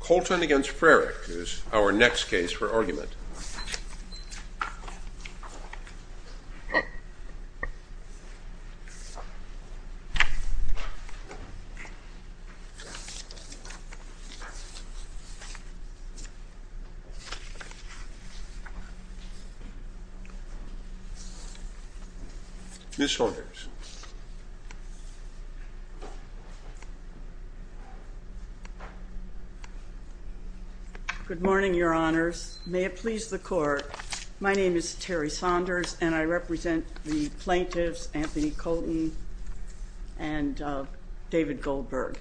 Colton against Frerich is our next case for argument. And if Okay. Thank you. Thanks. This holdovers. Good morning, your honors. May it please the court. My name is Terry Saunders, and I represent the plaintiffs, Anthony Colton and David Goldberg.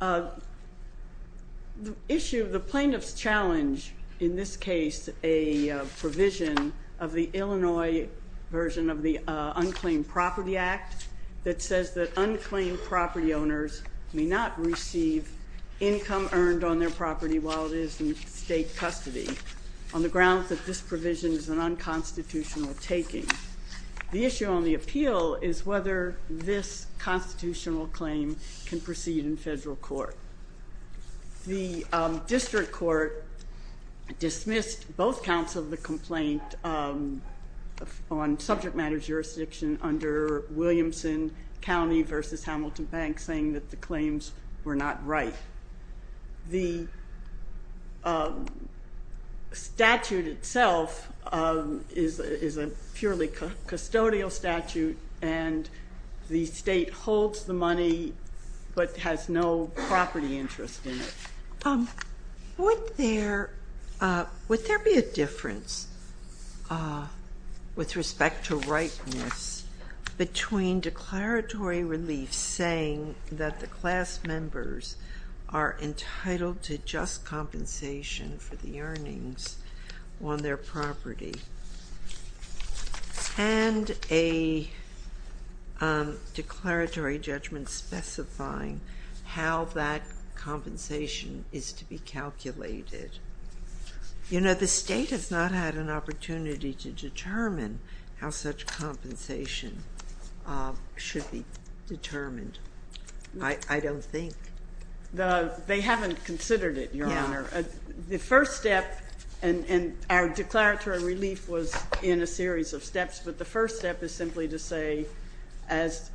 Uh, the issue of the plaintiff's challenge in this case, a provision of the Illinois version of the Unclaimed Property Act that says that unclaimed property owners may not receive income earned on their property while it is in state custody on the grounds that this provision is an unconstitutional taking. The issue on the appeal is whether this constitutional claim can proceed in federal court. The district court dismissed both counts of the complaint on subject matter jurisdiction under Williamson County versus Hamilton Bank, saying that the claims were not right. The custodial statute and the state holds the money, but has no property interest in it. Would there be a difference with respect to rightness between declaratory relief saying that the class members are entitled to just compensation for the earnings on their property? And a declaratory judgment specifying how that compensation is to be calculated? You know, the state has not had an opportunity to determine how such compensation should be determined, I don't think. They haven't considered it, Your Honor. The first step, and our declaratory relief was in a series of steps, but the first step is simply to say, as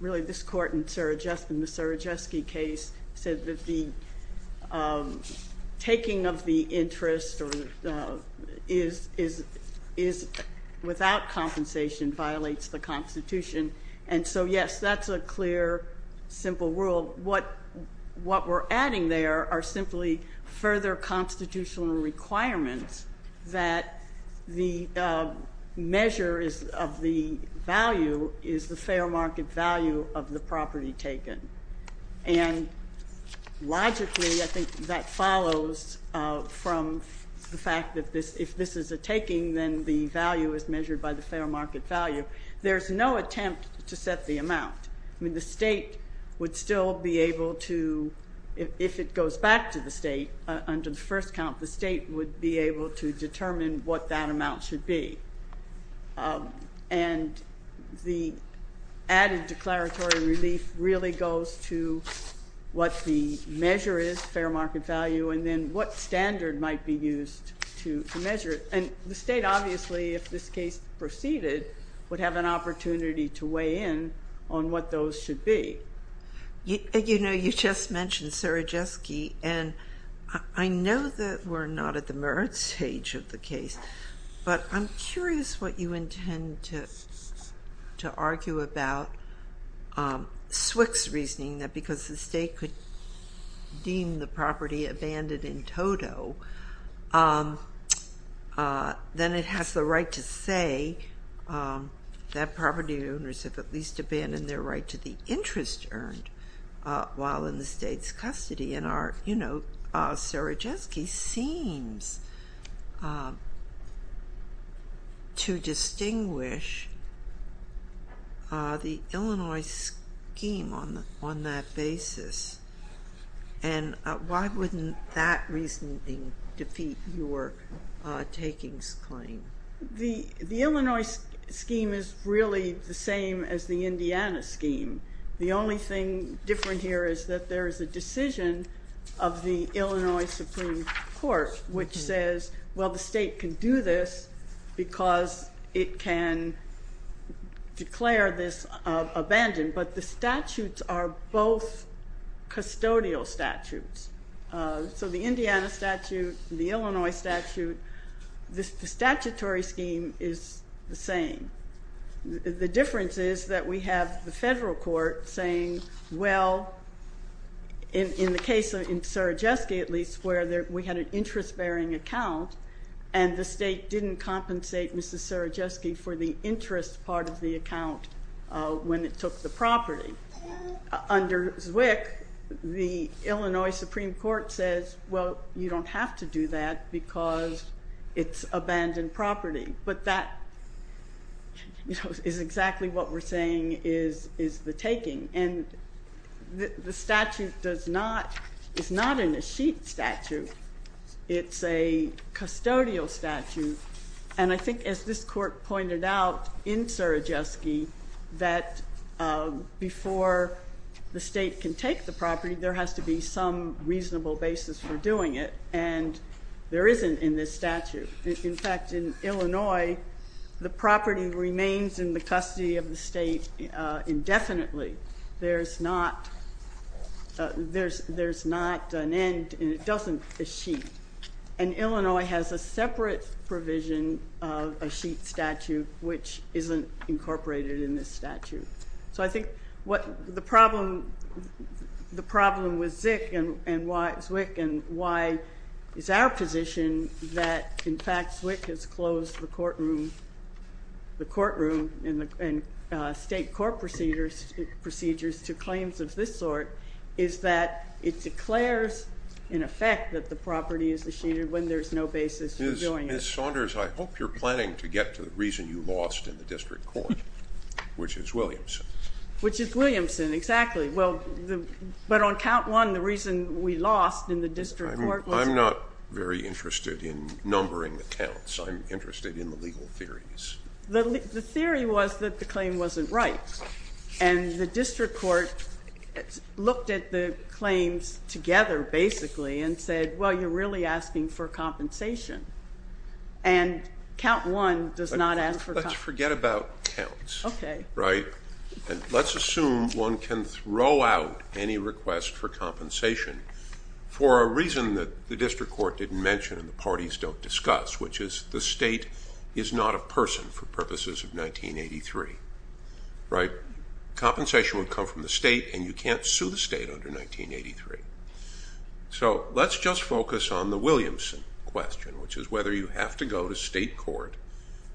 really this court in the Surajewski case said that the clear, simple rule, what we're adding there are simply further constitutional requirements that the measure of the value is the fair market value of the property taken. And logically, I think that follows from the fact that if this is a taking, then the value is measured by the fair market value. There's no attempt to set the amount. I mean, the state would still be able to, if it goes back to the state under the first count, the state would be able to determine what that amount should be. And the added declaratory relief really goes to what the measure is, fair market value, and then what standard might be used to measure it. And the state, obviously, if this case proceeded, would have an opportunity to weigh in on what those should be. You know, you just mentioned Surajewski, and I know that we're not at the merit stage of the case, but I'm curious what you intend to argue about SWCC's reasoning that because the state could deem the property abandoned in toto, then it has the right to say that property owners have at least abandoned their right to the interest earned while in the state's custody. And, you know, Surajewski seems to distinguish the Illinois scheme on that basis. And why wouldn't that reasoning defeat your takings claim? The Illinois scheme is really the same as the Indiana scheme. The only thing different here is that there is a decision of the Illinois Supreme Court, which says, well, the state can do this because it can declare this abandoned, but the statutes are both custodial statutes. So the Indiana statute, the Illinois statute, the statutory scheme is the same. The difference is that we have the federal court saying, well, in the case of Surajewski, at least, where we had an interest-bearing account and the state didn't compensate Mrs. Surajewski for the interest part of the account when it took the property. Under SWCC, the Illinois Supreme Court says, well, you don't have to do that because it's abandoned property. But that is exactly what we're saying is the taking. And the statute does not, it's not in a sheet statute. It's a custodial statute. And I think as this court pointed out in Surajewski, that before the state can take the property, there has to be some reasonable basis for doing it. And there isn't in this statute. In fact, in Illinois, the property remains in the custody of the state indefinitely. There's not an end, and it doesn't, a sheet. And Illinois has a separate provision of a sheet statute, which isn't incorporated in this statute. So I think what the problem, the problem with Zwick and why it's our position that, in fact, Zwick has closed the courtroom, the courtroom and state court procedures to claims of this sort, is that it declares, in effect, that the property is the sheet when there's no basis for doing it. Ms. Saunders, I hope you're planning to get to the reason you lost in the district court, which is Williamson. Which is Williamson, exactly. Well, but on count one, the reason we lost in the district court was- I'm not very interested in numbering the counts. I'm interested in the legal theories. The theory was that the claim wasn't right. And the district court looked at the claims together, basically, and said, well, you're really asking for compensation. And count one does not ask for- Let's forget about counts. Okay. Right? And let's assume one can throw out any request for compensation for a reason that the district court didn't mention and the parties don't discuss, which is the state is not a person for purposes of 1983. Right? Compensation would come from the state and you can't sue the state under 1983. So let's just focus on the Williamson question, which is whether you have to go to state court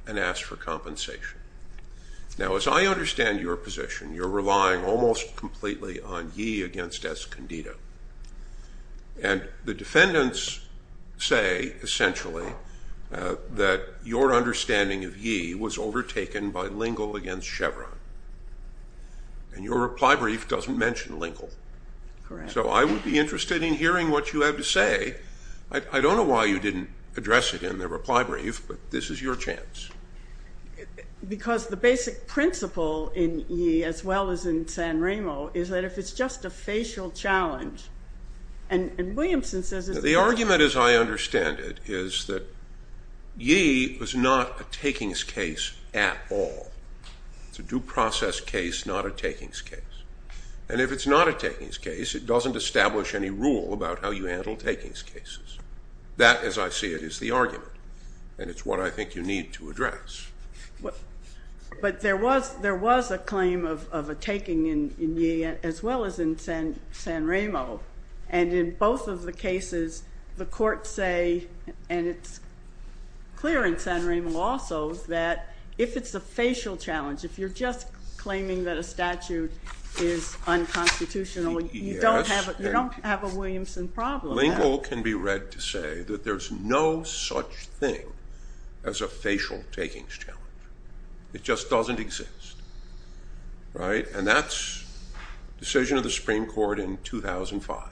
and ask for compensation. Now, as I understand your position, you're relying almost completely on Yee against Escondido. And the defendants say, essentially, that your understanding of Yee was overtaken by Lingle against Chevron. And your reply brief doesn't mention Lingle. Correct. So I would be interested in hearing what you have to say. I don't know why you didn't address it in the reply brief, but this is your chance. Because the basic principle in Yee, as well as in San Remo, is that if it's just a facial challenge, and Williamson says- The argument, as I understand it, is that Yee was not a takings case at all. It's a due process case, not a takings case. And if it's not a takings case, it doesn't establish any rule about how you handle takings cases. That, as I see it, is the argument. And it's what I think you need to address. But there was a claim of a taking in Yee, as well as in San Remo. And in both of the cases, the courts say, and it's clear in San Remo also, that if it's a facial challenge, if you're just claiming that a statute is unconstitutional, you don't have a Williamson problem. A lingual can be read to say that there's no such thing as a facial takings challenge. It just doesn't exist. And that's a decision of the Supreme Court in 2005.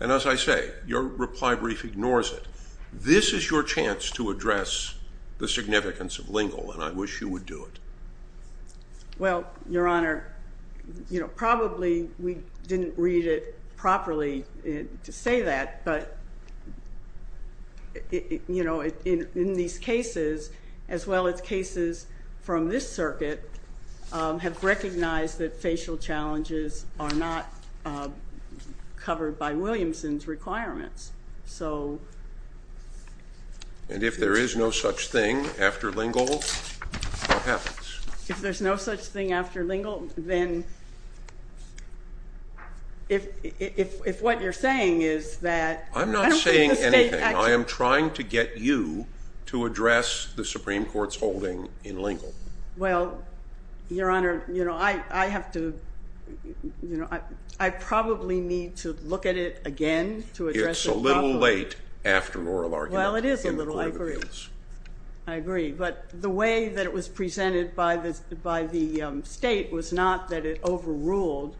And as I say, your reply brief ignores it. This is your chance to address the significance of lingual, and I wish you would do it. Well, Your Honor, you know, probably we didn't read it properly to say that, but, you know, in these cases, as well as cases from this circuit, have recognized that facial challenges are not covered by Williamson's requirements. And if there is no such thing after lingual, what happens? If there's no such thing after lingual, then if what you're saying is that- I'm not saying anything. I am trying to get you to address the Supreme Court's holding in lingual. Well, Your Honor, you know, I have to, you know, I probably need to look at it again to address it. It's a little late after an oral argument in court of appeals. Well, it is a little late. I agree. I agree. But the way that it was presented by the state was not that it overruled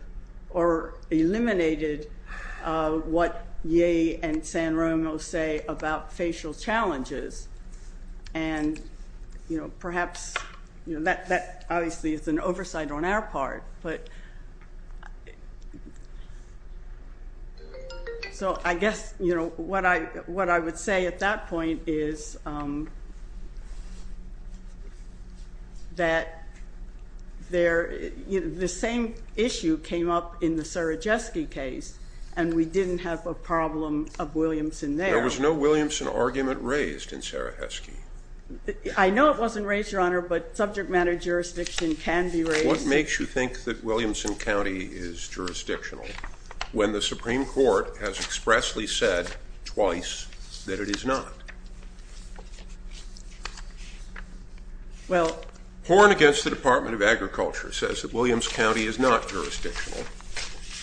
or eliminated what Ye and San Romo say about facial challenges. And, you know, perhaps, you know, that obviously is an oversight on our part. But, so I guess, you know, what I would say at that point is that the same issue came up in the Sarajewski case, and we didn't have a problem of Williamson there. There was no Williamson argument raised in Sarajewski. I know it wasn't raised, Your Honor, but subject matter jurisdiction can be raised. What makes you think that Williamson County is jurisdictional when the Supreme Court has expressly said twice that it is not? Well- Horn against the Department of Agriculture says that Williams County is not jurisdictional.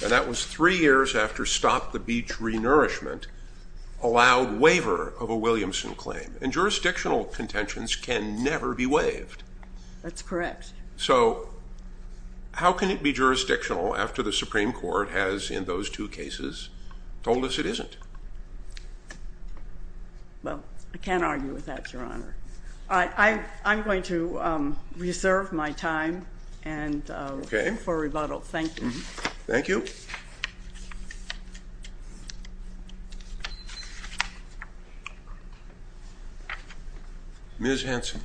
And that was three years after Stop the Beach Renourishment allowed waiver of a Williamson claim. And jurisdictional contentions can never be waived. That's correct. So how can it be jurisdictional after the Supreme Court has, in those two cases, told us it isn't? Well, I can't argue with that, Your Honor. I'm going to reserve my time for rebuttal. Thank you. Thank you. Ms. Hanson.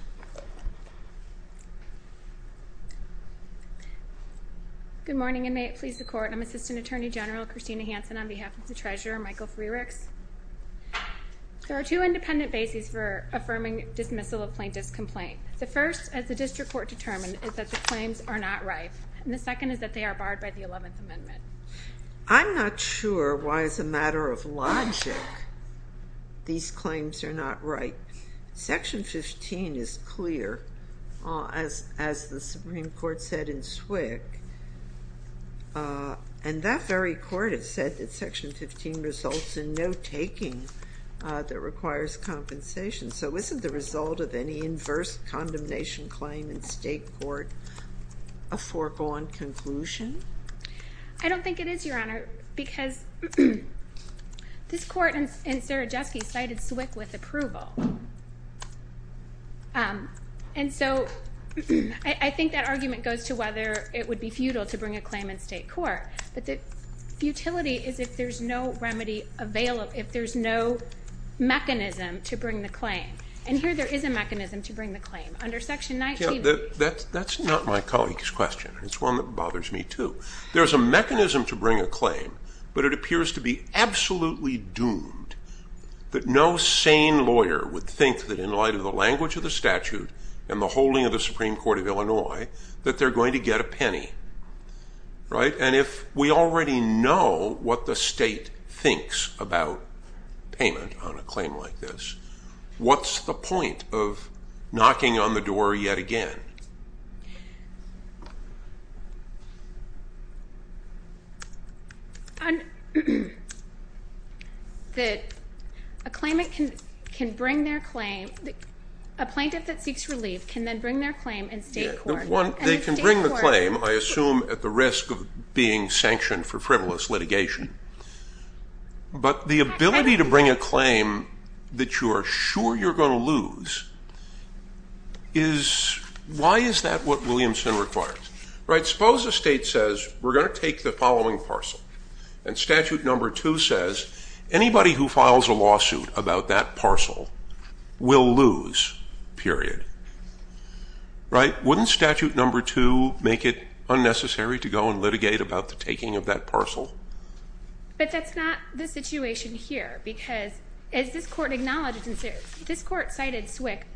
Good morning, and may it please the Court. I'm Assistant Attorney General Christina Hanson on behalf of the Treasurer, Michael Freerichs. There are two independent bases for affirming dismissal of plaintiff's complaint. The first, as the District Court determined, is that the claims are not right. And the second is that they are barred by the 11th Amendment. I'm not sure why, as a matter of logic, these claims are not right. Section 15 is clear, as the Supreme Court said in SWCC. And that very Court has said that Section 15 results in no taking that requires compensation. So isn't the result of any inverse condemnation claim in state court a foregone conclusion? I don't think it is, Your Honor, because this Court in Sarajewski cited SWCC with approval. And so I think that argument goes to whether it would be futile to bring a claim in state court. But the futility is if there's no remedy available, if there's no mechanism to bring the claim. And here there is a mechanism to bring the claim. Under Section 19, That's not my colleague's question. It's one that bothers me, too. There's a mechanism to bring a claim, but it appears to be absolutely doomed that no in light of the language of the statute and the holding of the Supreme Court of Illinois, that they're going to get a penny, right? And if we already know what the state thinks about payment on a claim like this, what's the point of knocking on the door yet again? That a plaintiff that seeks relief can then bring their claim in state court. They can bring the claim, I assume, at the risk of being sanctioned for frivolous litigation. But the ability to bring a claim that you are sure you're going to lose is, why is that what Williamson requires? Right? Suppose the state says, we're going to take the following parcel. And statute number two says, anybody who files a lawsuit about that parcel will lose, period. Right? Wouldn't statute number two make it unnecessary to go and litigate about the taking of that parcel? But that's not the situation here. Because as this court acknowledged, this court cited SWCC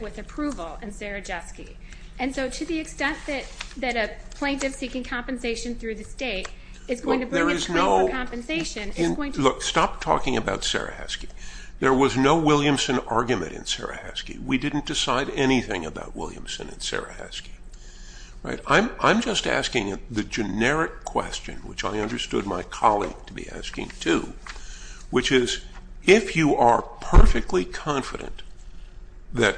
with approval in Sarajewski. And so to the extent that a plaintiff seeking compensation through the state is going to bring in a claim for compensation, it's going to- Look, stop talking about Sarajewski. There was no Williamson argument in Sarajewski. We didn't decide anything about Williamson and Sarajewski. Right? I'm just asking the generic question, which I understood my colleague to be asking too, which is, if you are perfectly confident that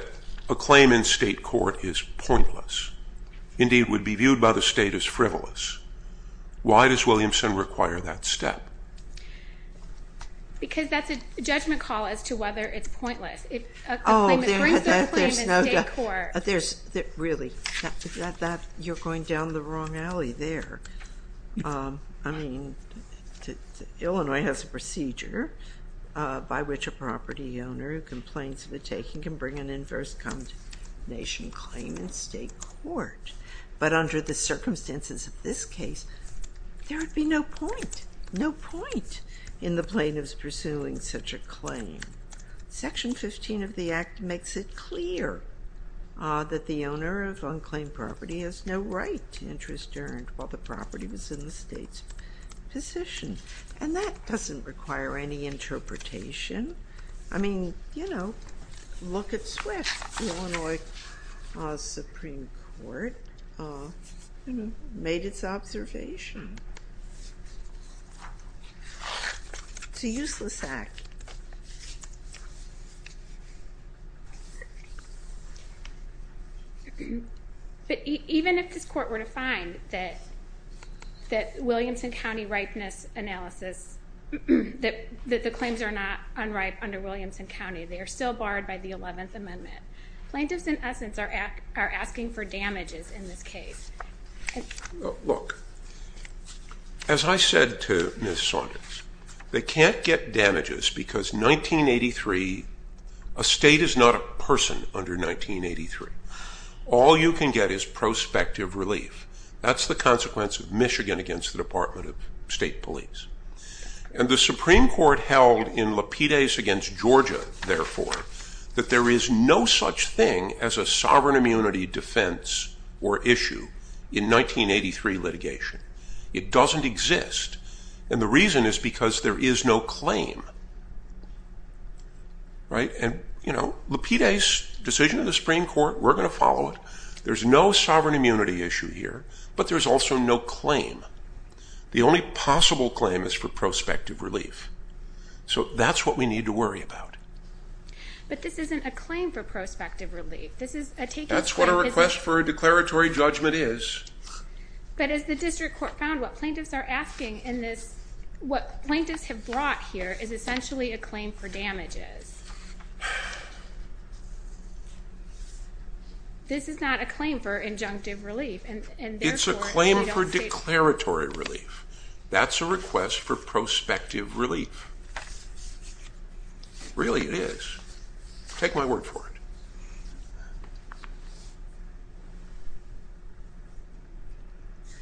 a claim in state court is pointless, indeed would be viewed by the state as frivolous, why does Williamson require that step? Because that's a judgment call as to whether it's pointless. If a claim- Oh, there's no doubt. Really, you're going down the wrong alley there. I mean, Illinois has a procedure by which a property owner who complains of a taking can bring an inverse condemnation claim in state court. But under the circumstances of this case, there would be no point, no point in the plaintiff's pursuing such a claim. Section 15 of the Act makes it clear that the owner of unclaimed property has no right to interest earned while the property was in the state's position. And that doesn't require any interpretation. I mean, you know, look at SWIFT. The Illinois Supreme Court made its observation. It's a useless act. But even if this court were to find that Williamson County ripeness analysis, that the claims are not unright under Williamson County, they are still barred by the 11th Amendment. Plaintiffs, in essence, are asking for damages in this case. Look, as I said to Ms. Saunders, they can't get damages because 1983, a state is not a person under 1983. All you can get is prospective relief. That's the consequence of Michigan against the Department of State Police. And the Supreme Court held in Lapides against Georgia, therefore, that there is no such thing as a sovereign immunity defense or issue in 1983 litigation. It doesn't exist. And the reason is because there is no claim. Right. And, you know, Lapides' decision of the Supreme Court, we're going to follow it. There's no sovereign immunity issue here, but there's also no claim. The only possible claim is for prospective relief. So that's what we need to worry about. But this isn't a claim for prospective relief. This is a taken claim. That's what a request for a declaratory judgment is. But as the district court found, what plaintiffs are asking in this, what plaintiffs have brought here is essentially a claim for damages. This is not a claim for injunctive relief. It's a claim for declaratory relief. That's a request for prospective relief. Really, it is. Take my word for it.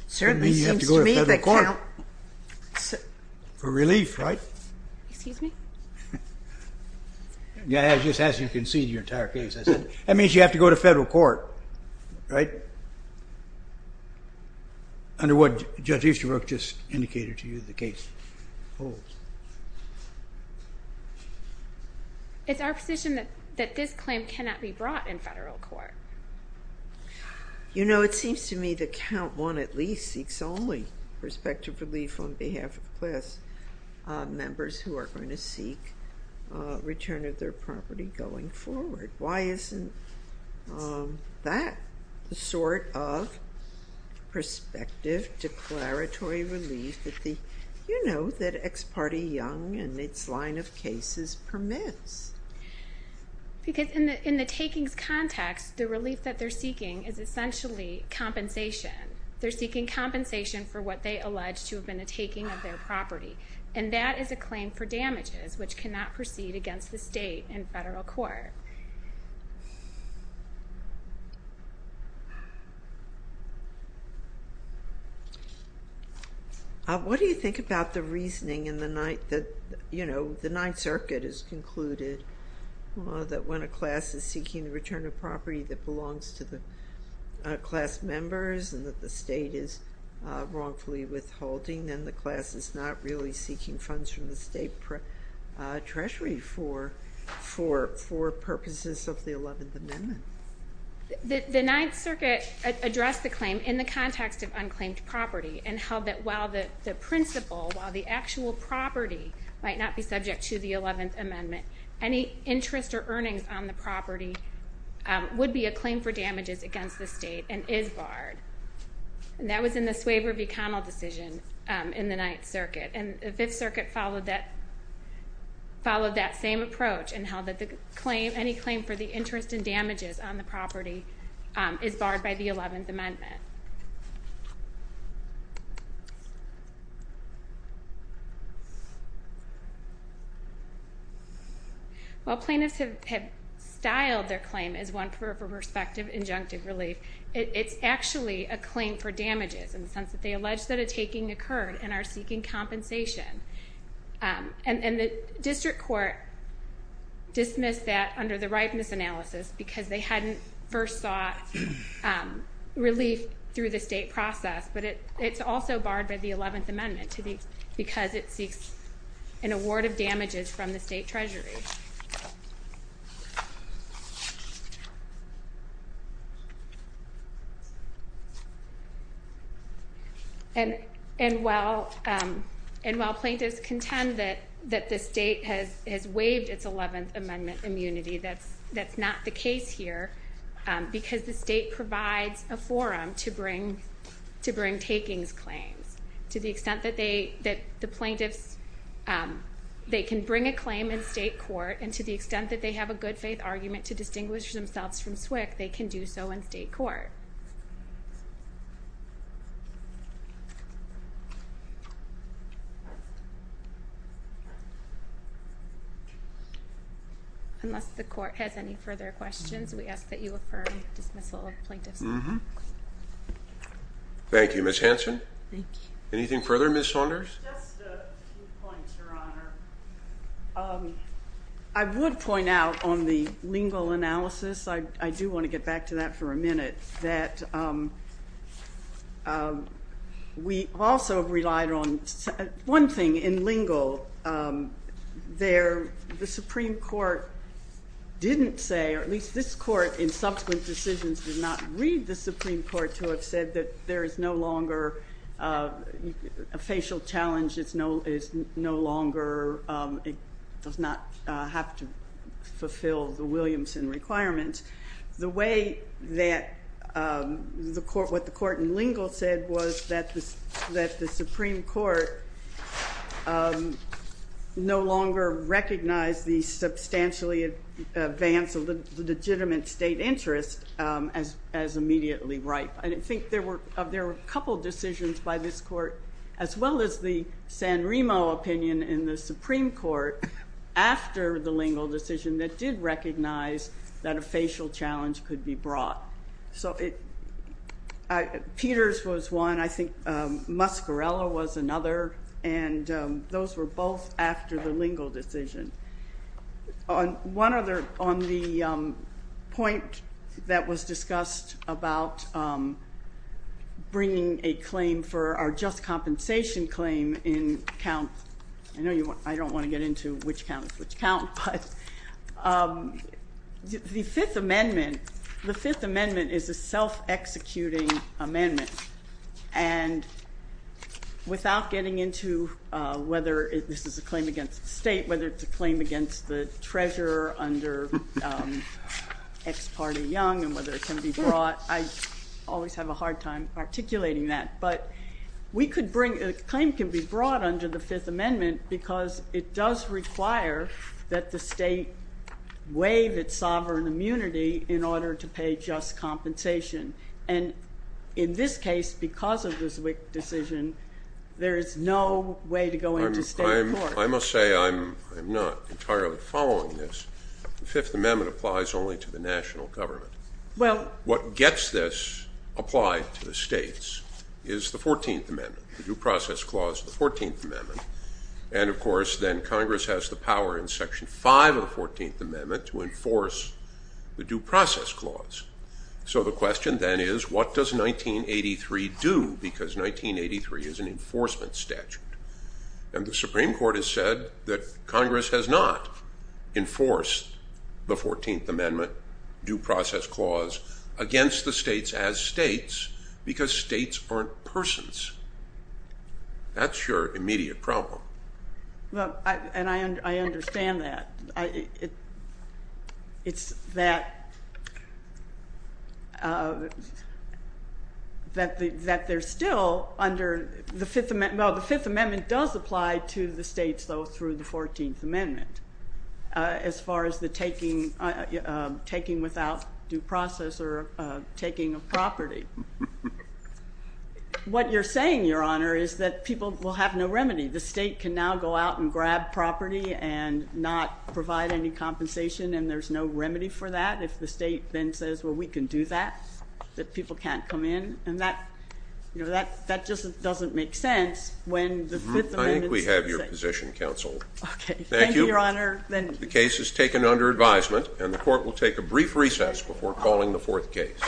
Certainly, you have to go to federal court for relief, right? Excuse me? Yeah, I just asked you to concede your entire case. I said, that means you have to go to federal court, right? Under what Judge Easterbrook just indicated to you the case holds. It's our position that this claim cannot be brought in federal court. You know, it seems to me that count one at least seeks only prospective relief on behalf of class members who are going to seek return of their property going forward. Why isn't that the sort of prospective declaratory relief that the, you know, that Ex Parte Young and its line of cases permits? Because in the takings context, the relief that they're seeking is essentially compensation. They're seeking compensation for what they allege to have been a taking of their property. And that is a claim for damages, which cannot proceed against the state and federal court. What do you think about the reasoning in the ninth that, you know, the Ninth Circuit has concluded that when a class is seeking the return of property that belongs to the class members and that the state is wrongfully withholding, then the class is not really seeking funds from the state treasury for purposes of the Eleventh Amendment? The Ninth Circuit addressed the claim in the context of unclaimed property and held that the principle, while the actual property might not be subject to the Eleventh Amendment, any interest or earnings on the property would be a claim for damages against the state and is barred. And that was in the Swaver v. Connell decision in the Ninth Circuit. And the Fifth Circuit followed that, followed that same approach and held that the claim, any claim for the interest and damages on the property is barred by the Eleventh Amendment. While plaintiffs have styled their claim as one for prospective injunctive relief, it's actually a claim for damages in the sense that they allege that a taking occurred and are seeking compensation. And the district court dismissed that under the rightness analysis because they hadn't first sought relief through the state process. But it's also barred by the Eleventh Amendment because it seeks an award of damages from the state treasury. While plaintiffs contend that the state has waived its Eleventh Amendment immunity, that's that the plaintiffs, they can bring a claim in state court. And to the extent that they have a good faith argument to distinguish themselves from SWCC, they can do so in state court. Unless the court has any further questions, we ask that you affirm dismissal of plaintiffs. Mm-hmm. Thank you. Ms. Hanson? Thank you. Anything further, Ms. Saunders? Just a few points, Your Honor. I would point out on the lingual analysis, I do want to get back to that for a minute, that we also relied on one thing in lingual. There, the Supreme Court didn't say, or at least this court in subsequent decisions did not read the Supreme Court to have said that there is no longer a facial challenge. It's no longer, it does not have to fulfill the Williamson requirement. The way that the court, what the court in lingual said was that the Supreme Court no longer recognized the substantially advance of the legitimate state interest as immediately ripe. And I think there were a couple decisions by this court, as well as the San Remo opinion in the Supreme Court after the lingual decision that did recognize that a facial challenge could be brought. So Peters was one. I think Muscarella was another. And those were both after the lingual decision. On one other, on the point that was discussed about bringing a claim for our just compensation claim in count, I know you, I don't want to get into which count is which count, but the Fifth Amendment, the Fifth Amendment is a self-executing amendment. And without getting into whether this is a claim against the state, whether it's a claim against the treasurer under ex parte young and whether it can be brought, I always have a hard time articulating that. But we could bring, a claim can be brought under the Fifth Amendment because it does require that the state waive its sovereign immunity in order to pay just compensation. And in this case, because of this WIC decision, there is no way to go into state court. I must say, I'm not entirely following this. The Fifth Amendment applies only to the national government. What gets this applied to the states is the Fourteenth Amendment, the Due Process Clause of the Fourteenth Amendment. And of course, then Congress has the power in the Due Process Clause. So the question then is, what does 1983 do? Because 1983 is an enforcement statute. And the Supreme Court has said that Congress has not enforced the Fourteenth Amendment Due Process Clause against the states as states because states aren't persons. That's your immediate problem. Well, and I understand that. It's that, that they're still under the Fifth Amendment. Well, the Fifth Amendment does apply to the states, though, through the Fourteenth Amendment, as far as the taking without due process or taking of is that people will have no remedy. The state can now go out and grab property and not provide any compensation, and there's no remedy for that if the state then says, well, we can do that, that people can't come in. And that, you know, that just doesn't make sense when the Fifth Amendment's in effect. I think we have your position, Counsel. Okay. Thank you. Thank you, Your Honor. The case is taken under advisement, and the Court will take a brief recess before calling the fourth case.